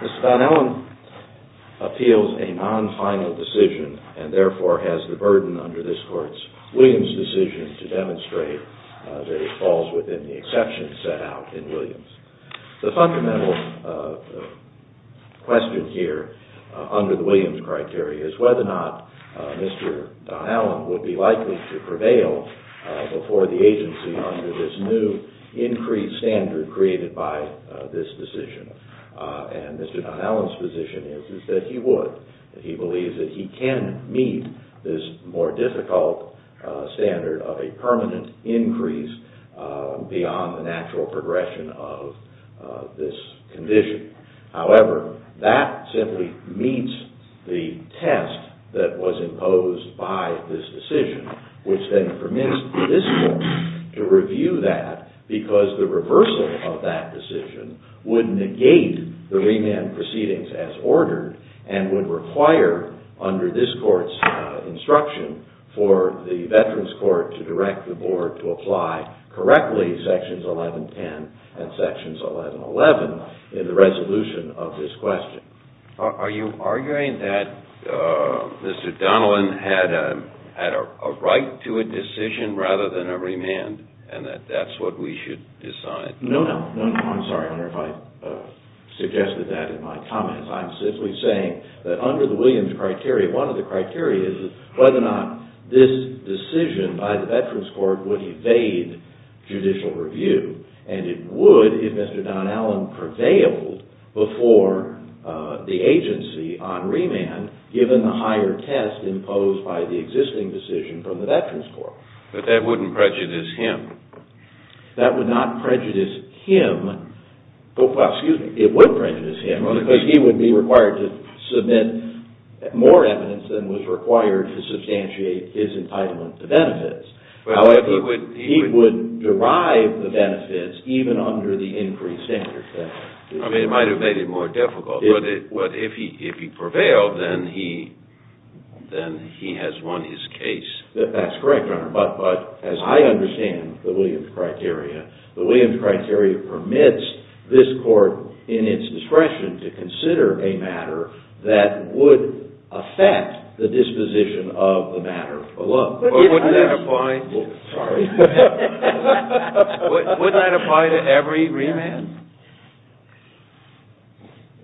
Mr. Donnellan appeals a non-final decision and therefore has the burden under this court's Williams decision to demonstrate that he falls within the exceptions set out in Williams. The fundamental question here under the Williams criteria is whether or not Mr. Donnellan would be likely to prevail before the agency under this new increased standard created by this decision. And Mr. Donnellan's position is that he would. He believes that he can meet this more difficult standard of a permanent increase beyond the natural progression of this condition. However, that simply meets the test that was imposed by this decision, which then permits this court to review that because the reversal of that decision would negate the remand proceedings as ordered and would require under this court's instruction for the veterans court to direct the board to apply correctly Sections 1110 and Sections 1111 in the resolution of this question. Are you arguing that Mr. Donnellan had a right to a decision rather than a remand and that that's what we should decide? No, no. I'm sorry. I wonder if I suggested that in my comments. I'm simply saying that under the Williams criteria, one of the criteria is whether or not this decision by the veterans court would evade judicial review. And it would if Mr. Donnellan prevailed before the agency on remand given the higher test imposed by the existing decision from the veterans court. But that wouldn't prejudice him. That would not prejudice him. Well, excuse me. It would prejudice him because he would be required to submit more evidence than was required to substantiate his entitlement to benefits. He would derive the benefits even under the increased standard. I mean, it might have made it more difficult. But if he prevailed, then he has won his case. That's correct, Your Honor. But as I understand the Williams criteria, the Williams criteria permits this court in its discretion to consider a matter that would affect the disposition of the matter alone. But wouldn't that apply to every remand?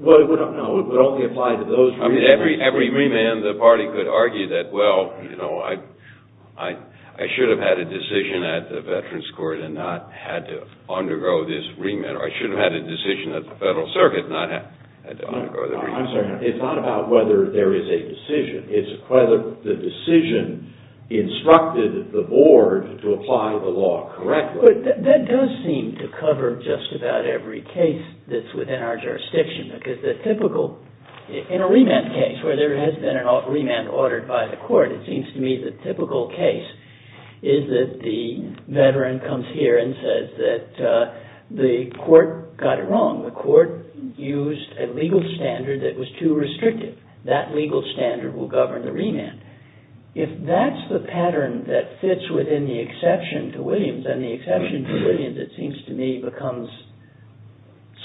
Well, no. It would only apply to those remands. I mean, every remand, the party could argue that, well, you know, I should have had a decision at the veterans court and not had to undergo this remand. Or I should have had a decision at the federal circuit and not had to undergo the remand. I'm sorry. It's not about whether there is a decision. It's whether the decision instructed the board to apply the law correctly. But that does seem to cover just about every case that's within our jurisdiction. Because the typical, in a remand case where there has been a remand ordered by the court, it seems to me the typical case is that the veteran comes here and says that the court got it wrong. The court used a legal standard that was too restrictive. That legal standard will govern the remand. If that's the pattern that fits within the exception to Williams and the exception to Williams, it seems to me, becomes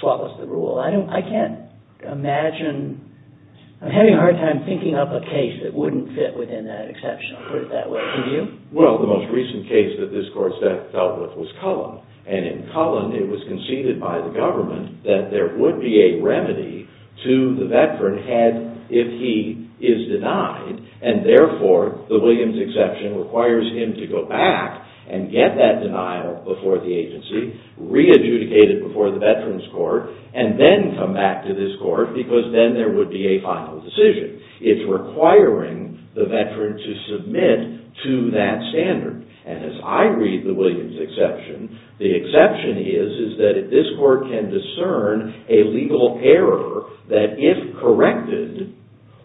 swallows the rule. I can't imagine – I'm having a hard time thinking up a case that wouldn't fit within that exception. I'll put it that way. Can you? Well, the most recent case that this court dealt with was Cullen. And in Cullen, it was conceded by the government that there would be a remedy to the veteran had – if he is denied. And therefore, the Williams exception requires him to go back and get that denial before the agency, re-adjudicate it before the veterans court, and then come back to this court because then there would be a final decision. It's requiring the veteran to submit to that standard. And as I read the Williams exception, the exception is that this court can discern a legal error that, if corrected,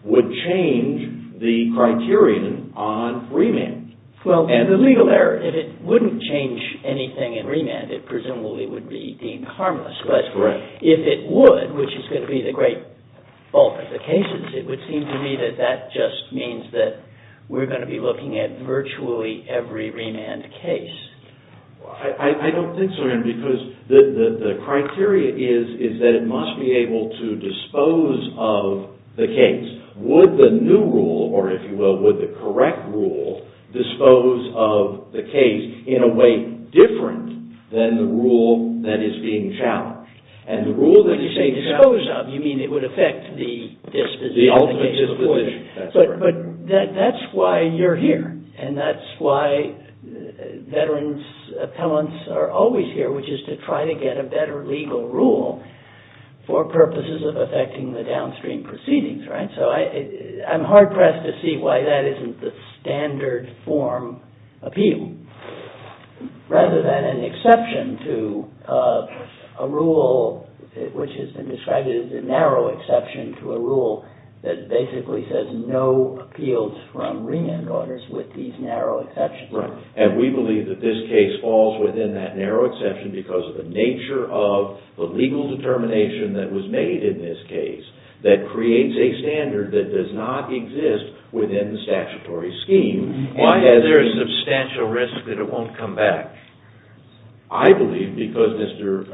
would change the criterion on remand. And the legal error, if it wouldn't change anything in remand, it presumably would be deemed harmless. That's correct. But if it would, which is going to be the great bulk of the cases, it would seem to me that that just means that we're going to be looking at virtually every remand case. I don't think so, Aaron, because the criteria is that it must be able to dispose of the case. Would the new rule, or if you will, would the correct rule dispose of the case in a way different than the rule that is being challenged? And the rule that is being challenged – When you say dispose of, you mean it would affect the disposition – The ultimate disposition. That's correct. But that's why you're here. And that's why veterans' appellants are always here, which is to try to get a better legal rule for purposes of affecting the downstream proceedings. So I'm hard-pressed to see why that isn't the standard form appeal, rather than an exception to a rule which has been described as a narrow exception to a rule that basically says no appeals from remand orders with these narrow exceptions. And we believe that this case falls within that narrow exception because of the nature of the legal determination that was made in this case that creates a standard that does not exist within the statutory scheme. Why is there a substantial risk that it won't come back? I believe because Mr.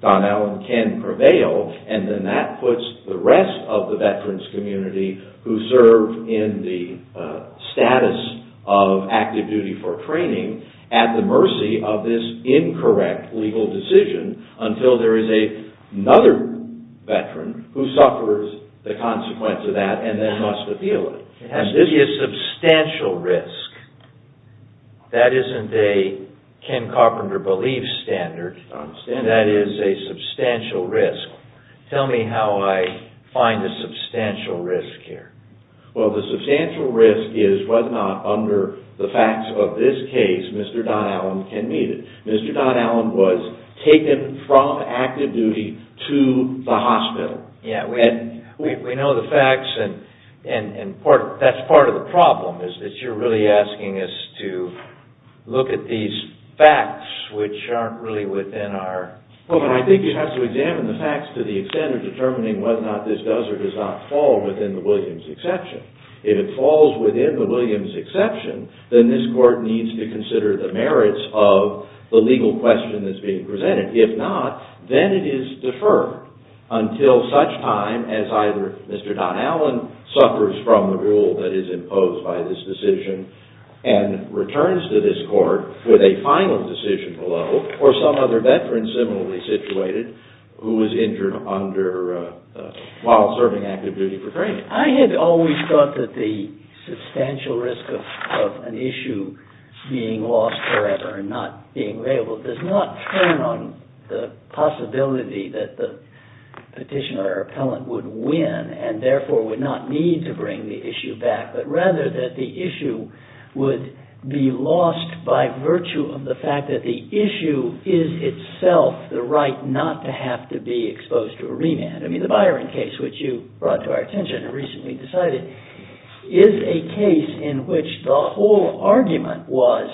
Don Allen can prevail, and then that puts the rest of the veterans' community who serve in the status of active duty for training at the mercy of this incorrect legal decision until there is another veteran who suffers the consequence of that and then must appeal it. There has to be a substantial risk. That isn't a Ken Carpenter belief standard. I understand that. That is a substantial risk. Tell me how I find the substantial risk here. Well, the substantial risk is whether or not under the facts of this case, Mr. Don Allen can meet it. Mr. Don Allen was taken from active duty to the hospital. We know the facts, and that's part of the problem is that you're really asking us to look at these facts which aren't really within our... Well, I think you have to examine the facts to the extent of determining whether or not this does or does not fall within the Williams exception. If it falls within the Williams exception, then this court needs to consider the merits of the legal question that's being presented. If not, then it is deferred until such time as either Mr. Don Allen suffers from the rule that is imposed by this decision and returns to this court with a final decision below, or some other veteran similarly situated who was injured while serving active duty for training. I had always thought that the substantial risk of an issue being lost forever and not being available does not turn on the possibility that the petitioner or appellant would win and therefore would not need to bring the issue back, but rather that the issue would be lost by virtue of the fact that the issue is itself the right not to have to be exposed to a remand. The Byron case, which you brought to our attention and recently decided, is a case in which the whole argument was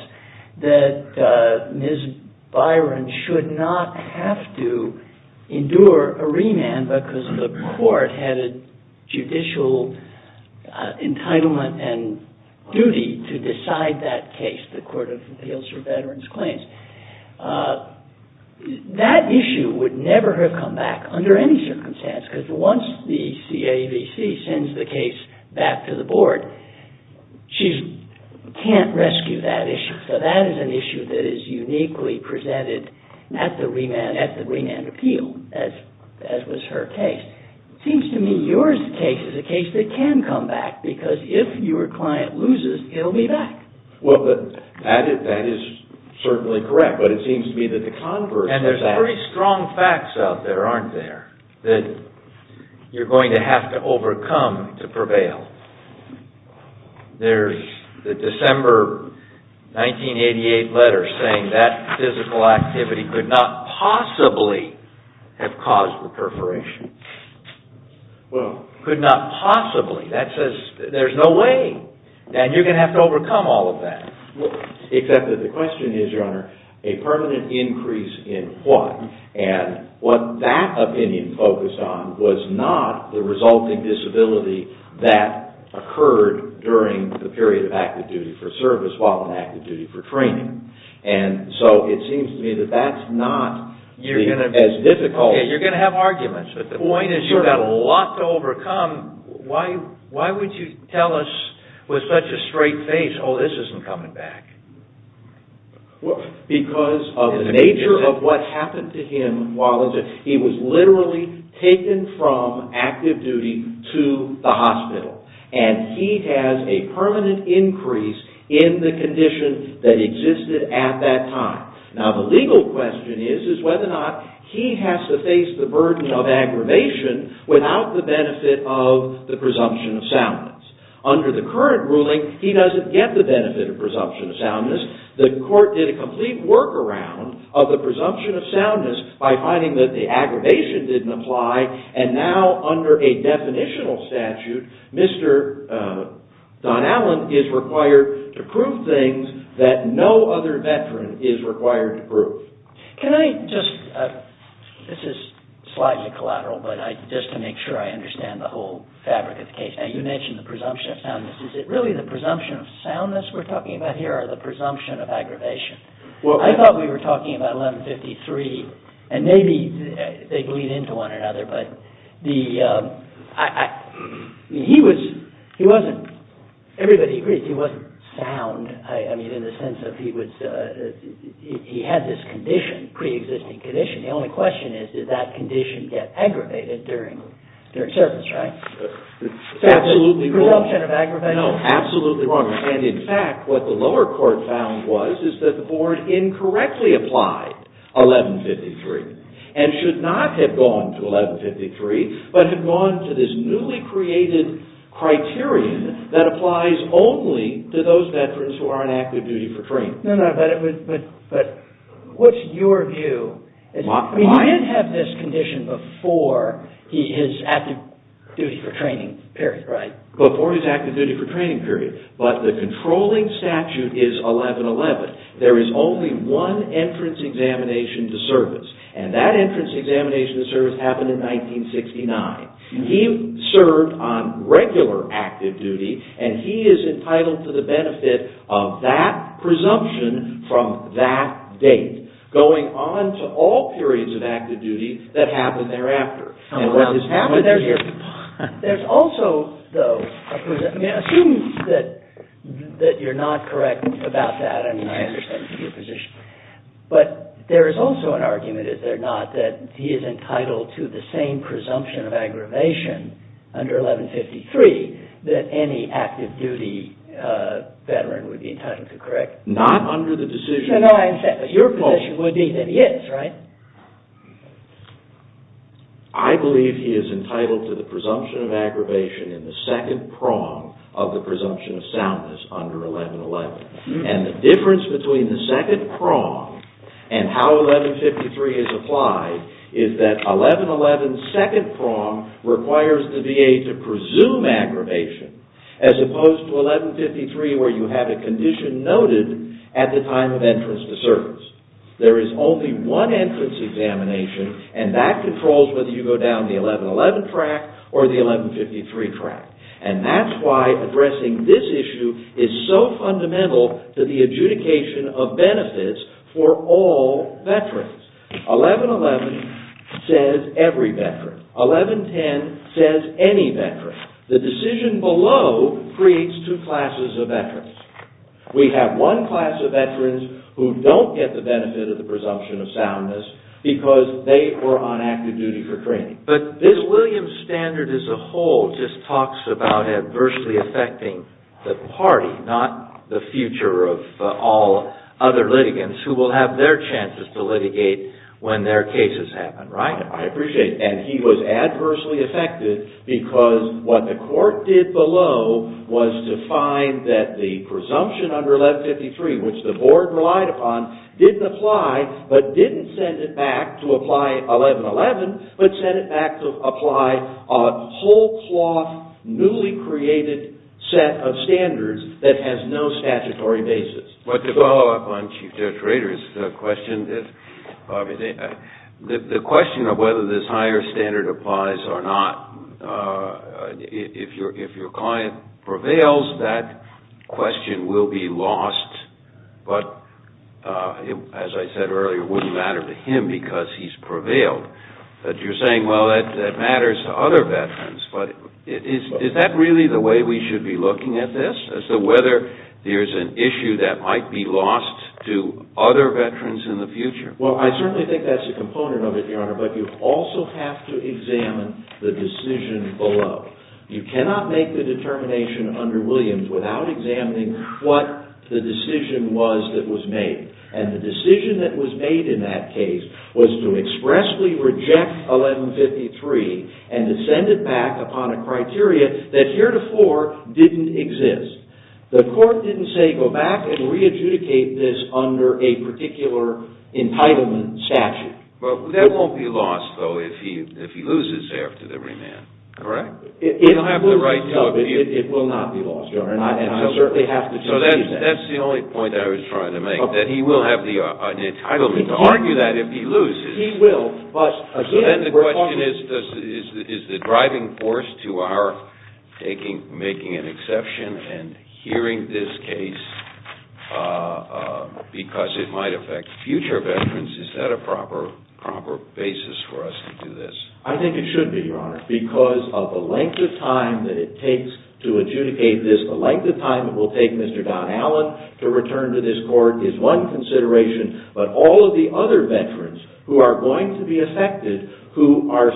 that Ms. Byron should not have to endure a remand because the court had a judicial entitlement and duty to decide that case, the Court of Appeals for Veterans Claims. That issue would never have come back under any circumstance because once the CAVC sends the case back to the board, she can't rescue that issue. So that is an issue that is uniquely presented at the remand appeal, as was her case. It seems to me your case is a case that can come back because if your client loses, he'll be back. Well, that is certainly correct, but it seems to me that the converse... And there's very strong facts out there, aren't there, that you're going to have to overcome to prevail. There's the December 1988 letter saying that physical activity could not possibly have caused the perforation. Well... That says there's no way. And you're going to have to overcome all of that. Except that the question is, Your Honor, a permanent increase in what? And what that opinion focused on was not the resulting disability that occurred during the period of active duty for service while in active duty for training. And so it seems to me that that's not as difficult... Why would you tell us with such a straight face, oh, this isn't coming back? Because of the nature of what happened to him while... He was literally taken from active duty to the hospital. And he has a permanent increase in the condition that existed at that time. Now, the legal question is whether or not he has to face the burden of aggravation without the benefit of the presumption of soundness. Under the current ruling, he doesn't get the benefit of presumption of soundness. The court did a complete workaround of the presumption of soundness by finding that the aggravation didn't apply. And now, under a definitional statute, Mr. Don Allen is required to prove things that no other veteran is required to prove. Can I just... This is slightly collateral, but just to make sure I understand the whole fabric of the case. Now, you mentioned the presumption of soundness. Is it really the presumption of soundness we're talking about here or the presumption of aggravation? I thought we were talking about 1153, and maybe they bleed into one another, but he wasn't... Everybody agrees he wasn't sound, I mean, in the sense of he had this condition, pre-existing condition. The only question is, did that condition get aggravated during service, right? Absolutely wrong. The presumption of aggravation? The board incorrectly applied 1153 and should not have gone to 1153, but had gone to this newly created criterion that applies only to those veterans who are on active duty for training. No, no, but what's your view? He didn't have this condition before his active duty for training period, right? There is only one entrance examination to service, and that entrance examination to service happened in 1969. He served on regular active duty, and he is entitled to the benefit of that presumption from that date, going on to all periods of active duty that happened thereafter. Assume that you're not correct about that, and I understand your position, but there is also an argument, is there not, that he is entitled to the same presumption of aggravation under 1153 that any active duty veteran would be entitled to, correct? Not under the decision. Your position would be that he is, right? I believe he is entitled to the presumption of aggravation in the second prong of the presumption of soundness under 1111. And the difference between the second prong and how 1153 is applied is that 1111's second prong requires the VA to presume aggravation, as opposed to 1153 where you have a condition noted at the time of entrance to service. There is only one entrance examination, and that controls whether you go down the 1111 track or the 1153 track. And that's why addressing this issue is so fundamental to the adjudication of benefits for all veterans. 1111 says every veteran. 1110 says any veteran. The decision below creates two classes of veterans. We have one class of veterans who don't get the benefit of the presumption of soundness because they were on active duty for training. But this Williams standard as a whole just talks about adversely affecting the party, not the future of all other litigants who will have their chances to litigate when their cases happen, right? And he was adversely affected because what the court did below was to find that the presumption under 1153, which the board relied upon, didn't apply, but didn't send it back to apply 1111, but sent it back to apply a whole cloth, newly created set of standards that has no statutory basis. But to follow up on Chief Judge Rader's question, the question of whether this higher standard applies or not, if your client prevails, that question will be lost. But as I said earlier, it wouldn't matter to him because he's prevailed. But you're saying, well, that matters to other veterans. But is that really the way we should be looking at this, as to whether there's an issue that might be lost to other veterans in the future? Well, I certainly think that's a component of it, Your Honor, but you also have to examine the decision below. You cannot make the determination under Williams without examining what the decision was that was made. And the decision that was made in that case was to expressly reject 1153 and to send it back upon a criteria that heretofore didn't exist. The court didn't say, go back and re-adjudicate this under a particular entitlement statute. Well, that won't be lost, though, if he loses after the remand, correct? It will not be lost, Your Honor, and I certainly have to concede that. That's the only point I was trying to make, that he will have the entitlement to argue that if he loses. He will, but again, we're talking... So then the question is, is the driving force to our making an exception and hearing this case because it might affect future veterans, is that a proper basis for us to do this? I think it should be, Your Honor, because of the length of time that it takes to adjudicate this, the length of time it will take Mr. Don Allen to return to this court is one consideration, but all of the other veterans who are going to be affected, who are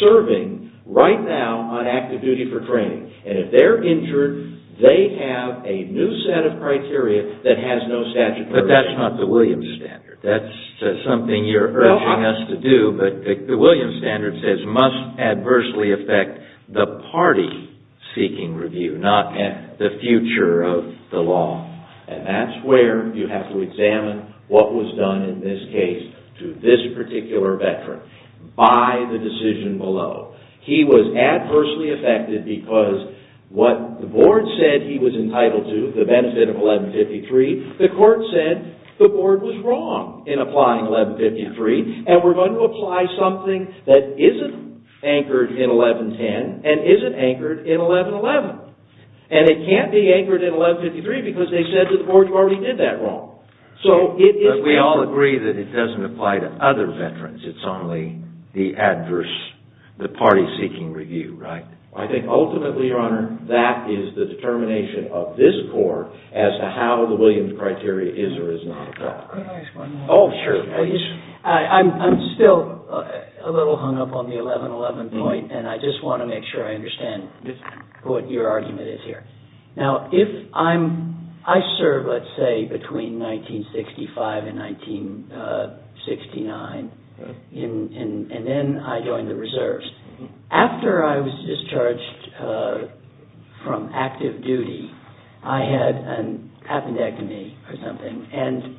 serving right now on active duty for training, and if they're injured, they have a new set of criteria that has no statutory... But that's not the Williams standard. That's something you're urging us to do, but the Williams standard says must adversely affect the party seeking review, not the future of the law. And that's where you have to examine what was done in this case to this particular veteran by the decision below. He was adversely affected because what the board said he was entitled to, the benefit of 1153, the court said the board was wrong in applying 1153, and we're going to apply something that isn't anchored in 1110 and isn't anchored in 1111. And it can't be anchored in 1153 because they said to the board you already did that wrong. We all agree that it doesn't apply to other veterans. It's only the adverse, the party seeking review, right? I think ultimately, Your Honor, that is the determination of this court as to how the Williams criteria is or is not applied. Oh, sure. I'm still a little hung up on the 1111 point and I just want to make sure I understand what your argument is here. Now, I served, let's say, between 1965 and 1969, and then I joined the reserves. After I was discharged from active duty, I had an appendectomy or something, and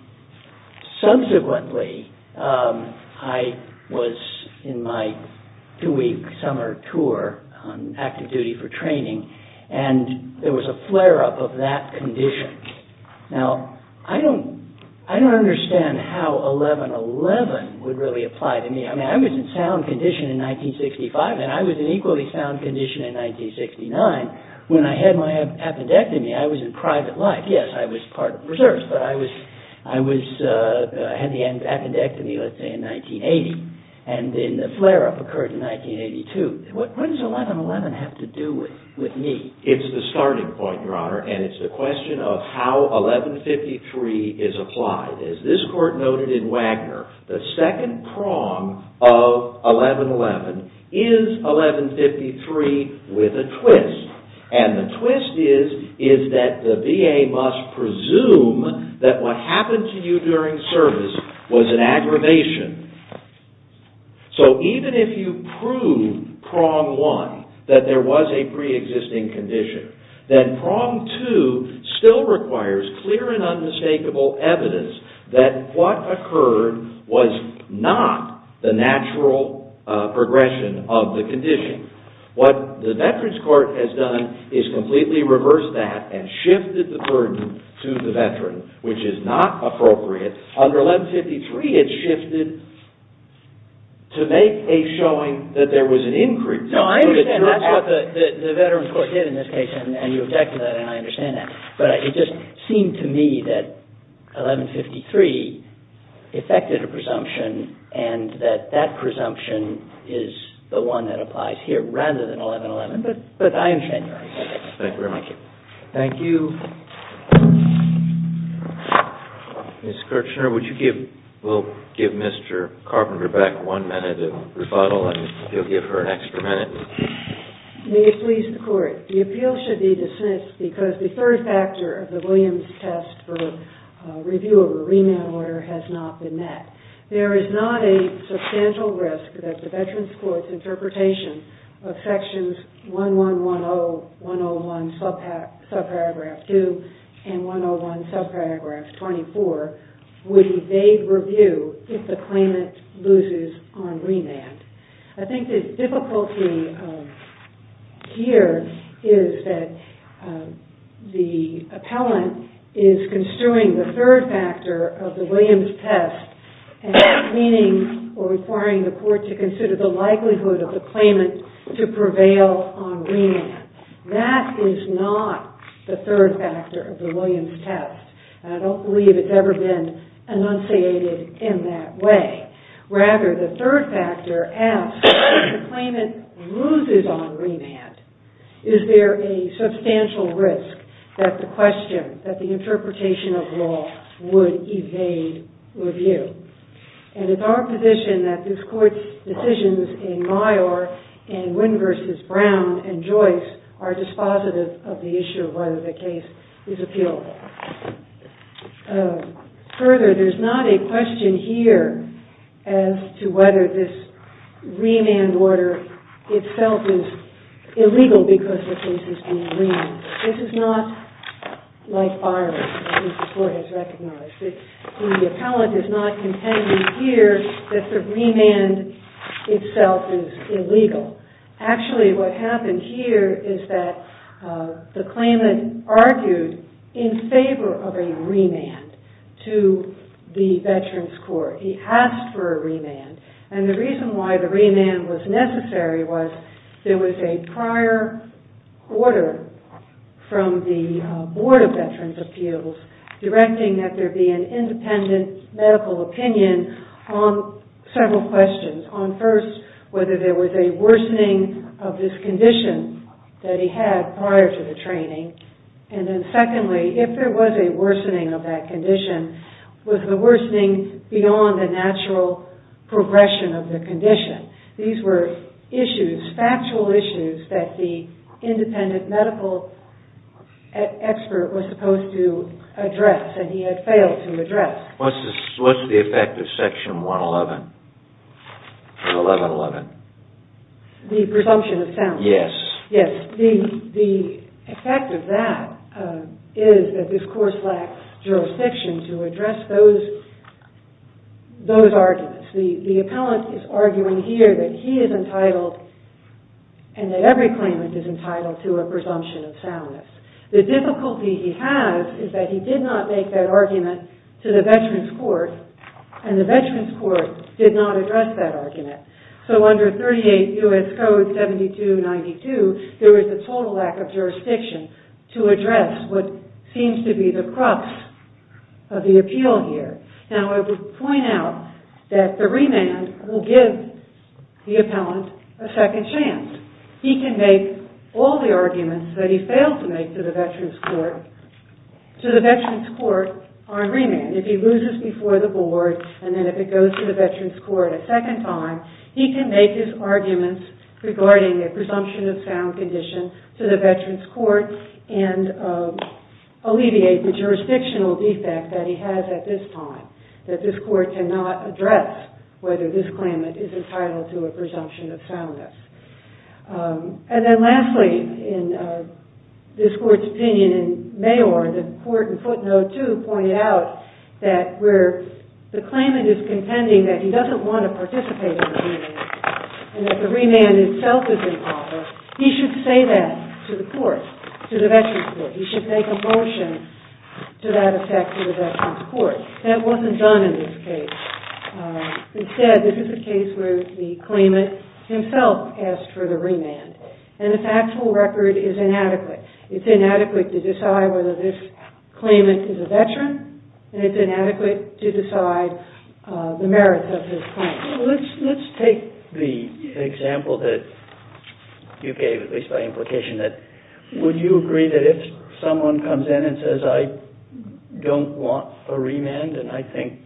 subsequently I was in my two-week summer tour on active duty for training, and there was a flare-up of that condition. Now, I don't understand how 1111 would really apply to me. I mean, I was in sound condition in 1965 and I was in equally sound condition in 1969. When I had my appendectomy, I was in private life. Yes, I was part of reserves, but I had the appendectomy, let's say, in 1980, and then the flare-up occurred in 1982. What does 1111 have to do with me? It's the starting point, Your Honor, and it's the question of how 1153 is applied. As this court noted in Wagner, the second prong of 1111 is 1153 with a twist, and the twist is that the VA must presume that what happened to you during service was an aggravation. So, even if you prove prong one, that there was a pre-existing condition, then prong two still requires clear and unmistakable evidence that what occurred was not the natural progression of the condition. What the Veterans Court has done is completely reverse that and shifted the burden to the veteran, which is not appropriate. Under 1153, it's shifted to make a showing that there was an increase. No, I understand. That's what the Veterans Court did in this case, and you object to that, and I understand that. But it just seemed to me that 1153 effected a presumption, and that that presumption is the one that applies here rather than 1111, but I understand your argument. Thank you very much. Thank you. Ms. Kirchner, would you give – we'll give Mr. Carpenter back one minute of rebuttal, and he'll give her an extra minute. May it please the Court. The appeal should be dismissed because the third factor of the Williams test for review of a remand order has not been met. There is not a substantial risk that the Veterans Court's interpretation of sections 1110, 101 subparagraph 2, and 101 subparagraph 24 would evade review if the claimant loses on remand. I think the difficulty here is that the appellant is construing the third factor of the Williams test and meaning or requiring the Court to consider the likelihood of the claimant to prevail on remand. That is not the third factor of the Williams test, and I don't believe it's ever been enunciated in that way. Rather, the third factor asks, if the claimant loses on remand, is there a substantial risk that the question – that the interpretation of law would evade review? And it's our position that this Court's decisions in Meyer and Wynn v. Brown and Joyce are dispositive of the issue of whether the case is appealable. Further, there's not a question here as to whether this remand order itself is illegal because the case is being remanded. This is not like firing, as the Court has recognized. The appellant is not contending here that the remand itself is illegal. Actually, what happened here is that the claimant argued in favor of a remand to the Veterans Court. He asked for a remand, and the reason why the remand was necessary was there was a prior order from the Board of Veterans' Appeals directing that there be an independent medical opinion on several questions. On first, whether there was a worsening of this condition that he had prior to the training. And then secondly, if there was a worsening of that condition, was the worsening beyond the natural progression of the condition? These were issues, factual issues, that the independent medical expert was supposed to address, and he had failed to address. What's the effect of Section 111? The presumption of soundness. Yes. Yes. The effect of that is that this Court lacks jurisdiction to address those arguments. The appellant is arguing here that he is entitled and that every claimant is entitled to a presumption of soundness. The difficulty he has is that he did not make that argument to the Veterans Court, and the Veterans Court did not address that argument. So under 38 U.S. Code 7292, there is a total lack of jurisdiction to address what seems to be the crux of the appeal here. Now, I would point out that the remand will give the appellant a second chance. He can make all the arguments that he failed to make to the Veterans Court on remand. If he loses before the board, and then if it goes to the Veterans Court a second time, he can make his arguments regarding a presumption of sound condition to the Veterans Court and alleviate the jurisdictional defect that he has at this time, that this Court cannot address whether this claimant is entitled to a presumption of soundness. And then lastly, in this Court's opinion in Mayor, the Court in footnote 2 pointed out that where the claimant is contending that he doesn't want to participate in the remand and that the remand itself is improper, he should say that to the Court, to the Veterans Court. He should make a motion to that effect to the Veterans Court. That wasn't done in this case. Instead, this is a case where the claimant himself asked for the remand, and the factual record is inadequate. It's inadequate to decide whether this claimant is a Veteran, and it's inadequate to decide the merits of his claim. Let's take the example that you gave, at least by implication, that would you agree that if someone comes in and says, I don't want a remand and I think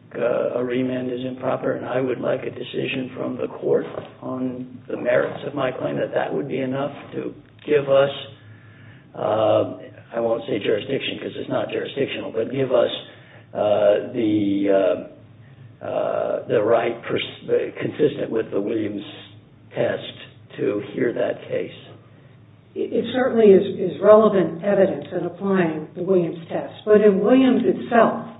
a remand is improper and I would like a decision from the Court on the merits of my claim, that that would be enough to give us, I won't say jurisdiction because it's not jurisdictional, but give us the right consistent with the Williams test to hear that case. It certainly is relevant evidence in applying the Williams test. But in Williams itself,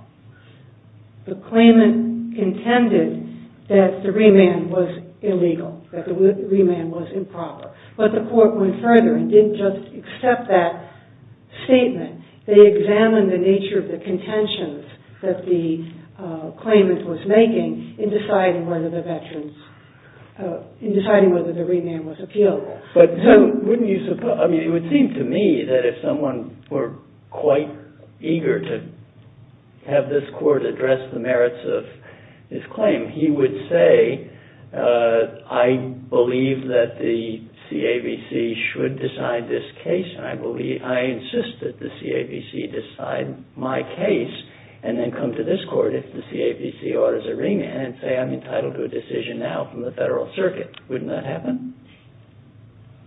the claimant contended that the remand was illegal, that the remand was improper. But the Court went further and didn't just accept that statement. They examined the nature of the contentions that the claimant was making in deciding whether the remand was appealable. It would seem to me that if someone were quite eager to have this Court address the merits of his claim, he would say, I believe that the CAVC should decide this case, and I insist that the CAVC decide my case, and then come to this Court if the CAVC orders a remand and say, I'm entitled to a decision now from the Federal Circuit. Wouldn't that happen?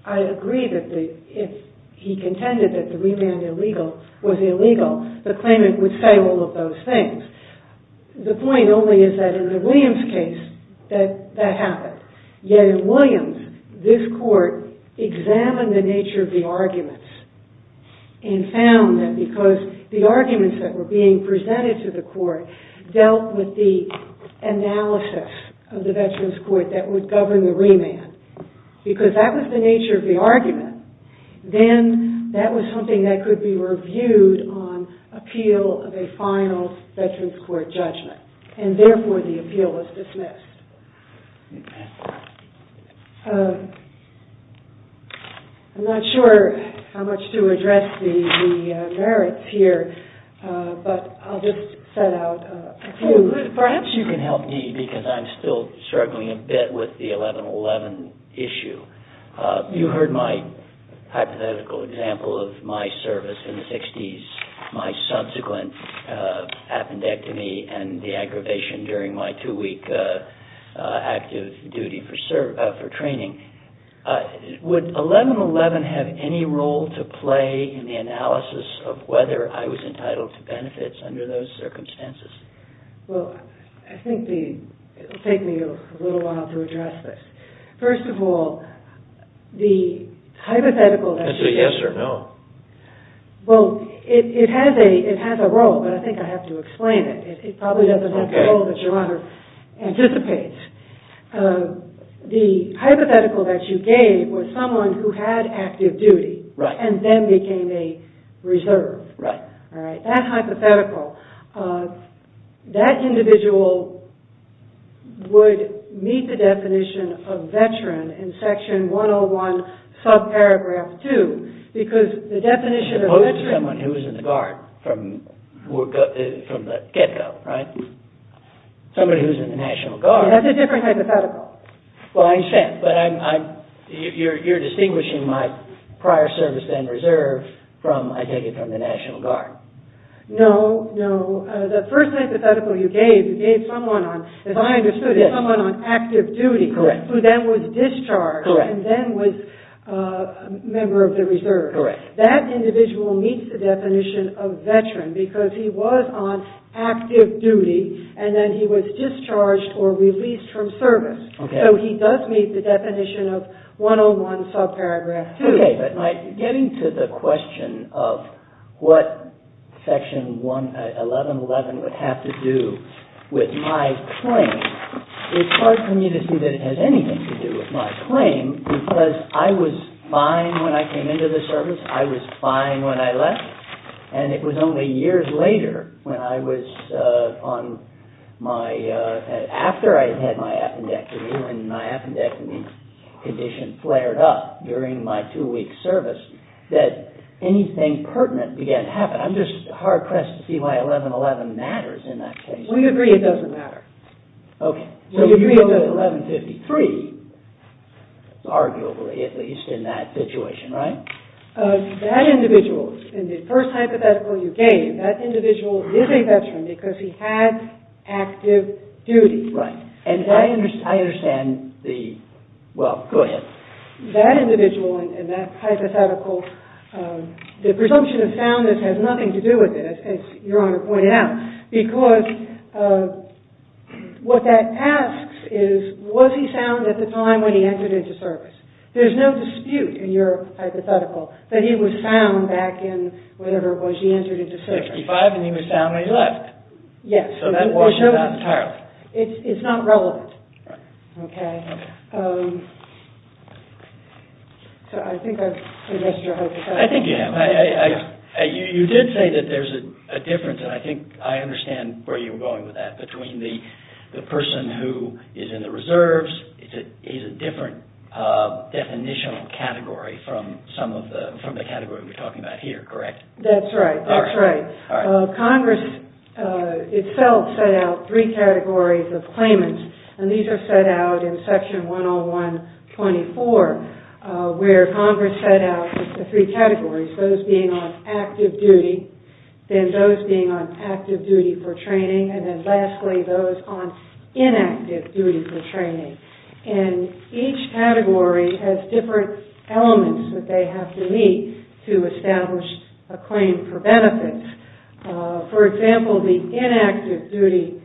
I agree that if he contended that the remand was illegal, the claimant would say all of those things. The point only is that in the Williams case, that happened. Yet in Williams, this Court examined the nature of the arguments and found that because the arguments that were being presented to the Court dealt with the analysis of the Veterans Court that would govern the remand, because that was the nature of the argument, then that was something that could be reviewed on appeal of a final Veterans Court judgment. And therefore, the appeal was dismissed. I'm not sure how much to address the merits here, but I'll just set out a few. Perhaps you can help me, because I'm still struggling a bit with the 1111 issue. You heard my hypothetical example of my service in the 60s, my subsequent appendectomy and the aggravation during my two-week active duty for training. Would 1111 have any role to play in the analysis of whether I was entitled to benefits under those circumstances? Well, I think it will take me a little while to address this. First of all, the hypothetical... Is it a yes or no? Well, it has a role, but I think I have to explain it. It probably doesn't have the role that Your Honor anticipates. The hypothetical that you gave was someone who had active duty and then became a reserve. Right. in section 101, subparagraph 2, because the definition of... It's someone who was in the Guard from the get-go, right? Somebody who was in the National Guard. That's a different hypothetical. Well, I understand, but you're distinguishing my prior service and reserve from, I take it, from the National Guard. No, no. The first hypothetical you gave, you gave someone on, as I understood it, someone on active duty... Correct. ...who was discharged and then was a member of the reserve. Correct. That individual meets the definition of veteran because he was on active duty and then he was discharged or released from service. Okay. So he does meet the definition of 101, subparagraph 2. Okay. But getting to the question of what section 1111 would have to do with my claim, it's hard for me to see that it has anything to do with my claim because I was fine when I came into the service, I was fine when I left, and it was only years later when I was on my... that anything pertinent began to happen. I'm just hard-pressed to see why 1111 matters in that case. We agree it doesn't matter. We agree it doesn't matter. So you know that 1153, arguably at least, in that situation, right? That individual, in the first hypothetical you gave, that individual is a veteran because he had active duty. Right. And I understand the... Well, go ahead. That individual in that hypothetical, the presumption of soundness has nothing to do with it, as Your Honor pointed out, because what that asks is, was he sound at the time when he entered into service? There's no dispute in your hypothetical that he was sound back in whatever it was he entered into service. 65 and he was sound when he left. Yes. So that was not entirely. It's not relevant. Right. Okay. So I think I've missed your hypothetical. I think you have. You did say that there's a difference, and I think I understand where you were going with that, between the person who is in the reserves is a different definitional category from some of the... from the category we're talking about here, correct? That's right. That's right. Congress itself set out three categories of claimants, and these are set out in Section 101.24, where Congress set out the three categories, those being on active duty, then those being on active duty for training, and then lastly, those on inactive duty for training. And each category has different elements that they have to meet to establish a claim for benefit. For example, the inactive duty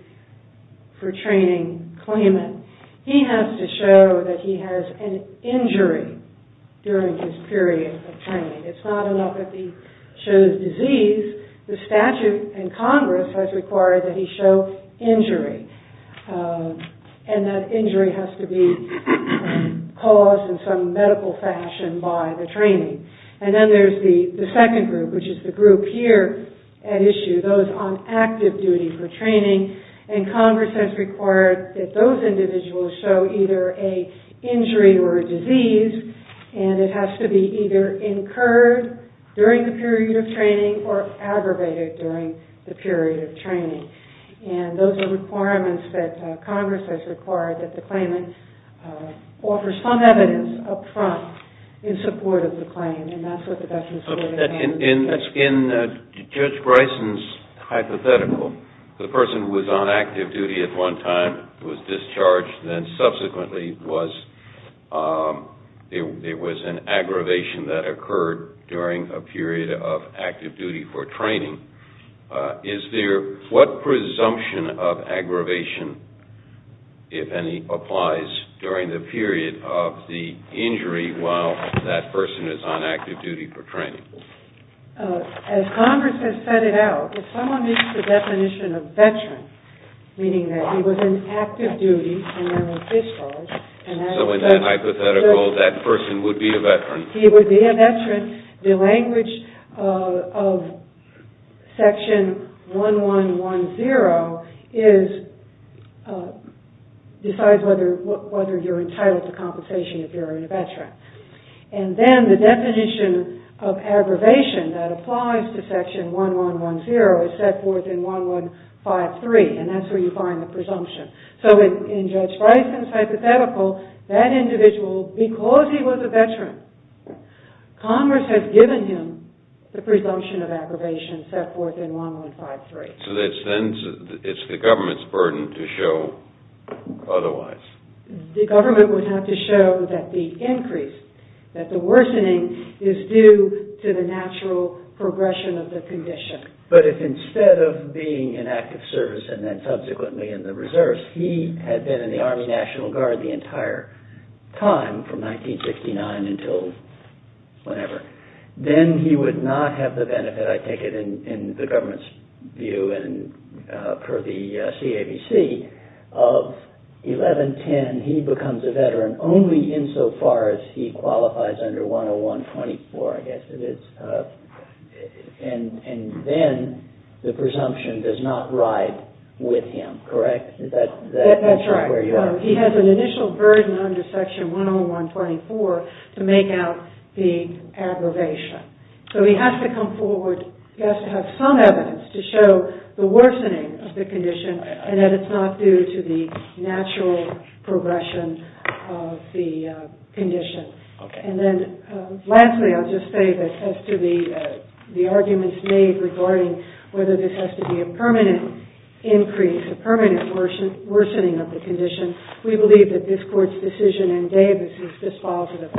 for training claimant, he has to show that he has an injury during his period of training. It's not enough that he shows disease. The statute in Congress has required that he show injury, and that injury has to be caused in some medical fashion by the training. And then there's the second group, which is the group here at issue, those on active duty for training, and Congress has required that those individuals show either an injury or a disease, and it has to be either incurred during the period of training or aggravated during the period of training. And those are requirements that Congress has required that the claimant offer some evidence up front in support of the claim, and that's what the definition of that is. In Judge Bryson's hypothetical, the person who was on active duty at one time, was discharged and subsequently there was an aggravation that occurred during a period of active duty for training. Is there what presumption of aggravation, if any, applies during the period of the injury while that person is on active duty for training? As Congress has set it out, if someone meets the definition of veteran, meaning that he was on active duty and there was discharge, and that's a veteran. So in that hypothetical, that person would be a veteran? He would be a veteran. The language of Section 1110 decides whether you're entitled to compensation if you're a veteran. And then the definition of aggravation that applies to Section 1110 is set forth in 1153, and that's where you find the presumption. So in Judge Bryson's hypothetical, that individual, because he was a veteran, Congress has given him the presumption of aggravation set forth in 1153. So it's the government's burden to show otherwise? The government would have to show that the increase, that the worsening is due to the natural progression of the condition. But if instead of being in active service and then subsequently in the Reserves, he had been in the Army National Guard the entire time from 1969 until whenever, then he would not have the benefit, I take it, in the government's view and per the CABC, of 1110, he becomes a veteran only insofar as he qualifies under 10124, I guess it is. And then the presumption does not ride with him, correct? That's right. He has an initial burden under Section 10124 to make out the aggravation. So he has to come forward, he has to have some evidence to show the worsening of the condition and that it's not due to the natural progression of the condition. And then lastly, I'll just say that as to the arguments made regarding whether this has to be a permanent increase, a permanent worsening of the condition, we believe that this Court's decision in Davis is dispositive.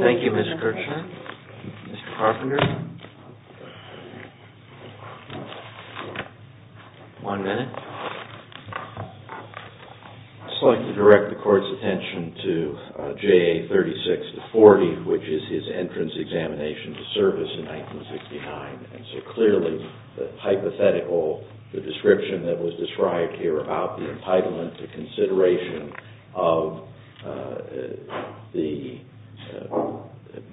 Thank you, Ms. Kirchner. Mr. Carpenter? One minute. I'd just like to direct the Court's attention to JA 36-40, which is his entrance examination to service in 1969. And so clearly, the hypothetical, the description that was described here about the entitlement, the consideration of the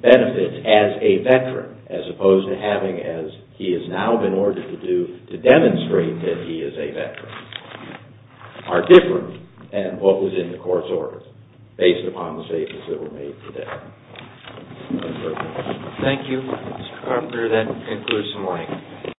benefits as a veteran, as opposed to having, as he has now been ordered to do, to demonstrate that he is a veteran, are different than what was in the Court's orders, based upon the statements that were made today. Thank you, Mr. Carpenter. That concludes the morning.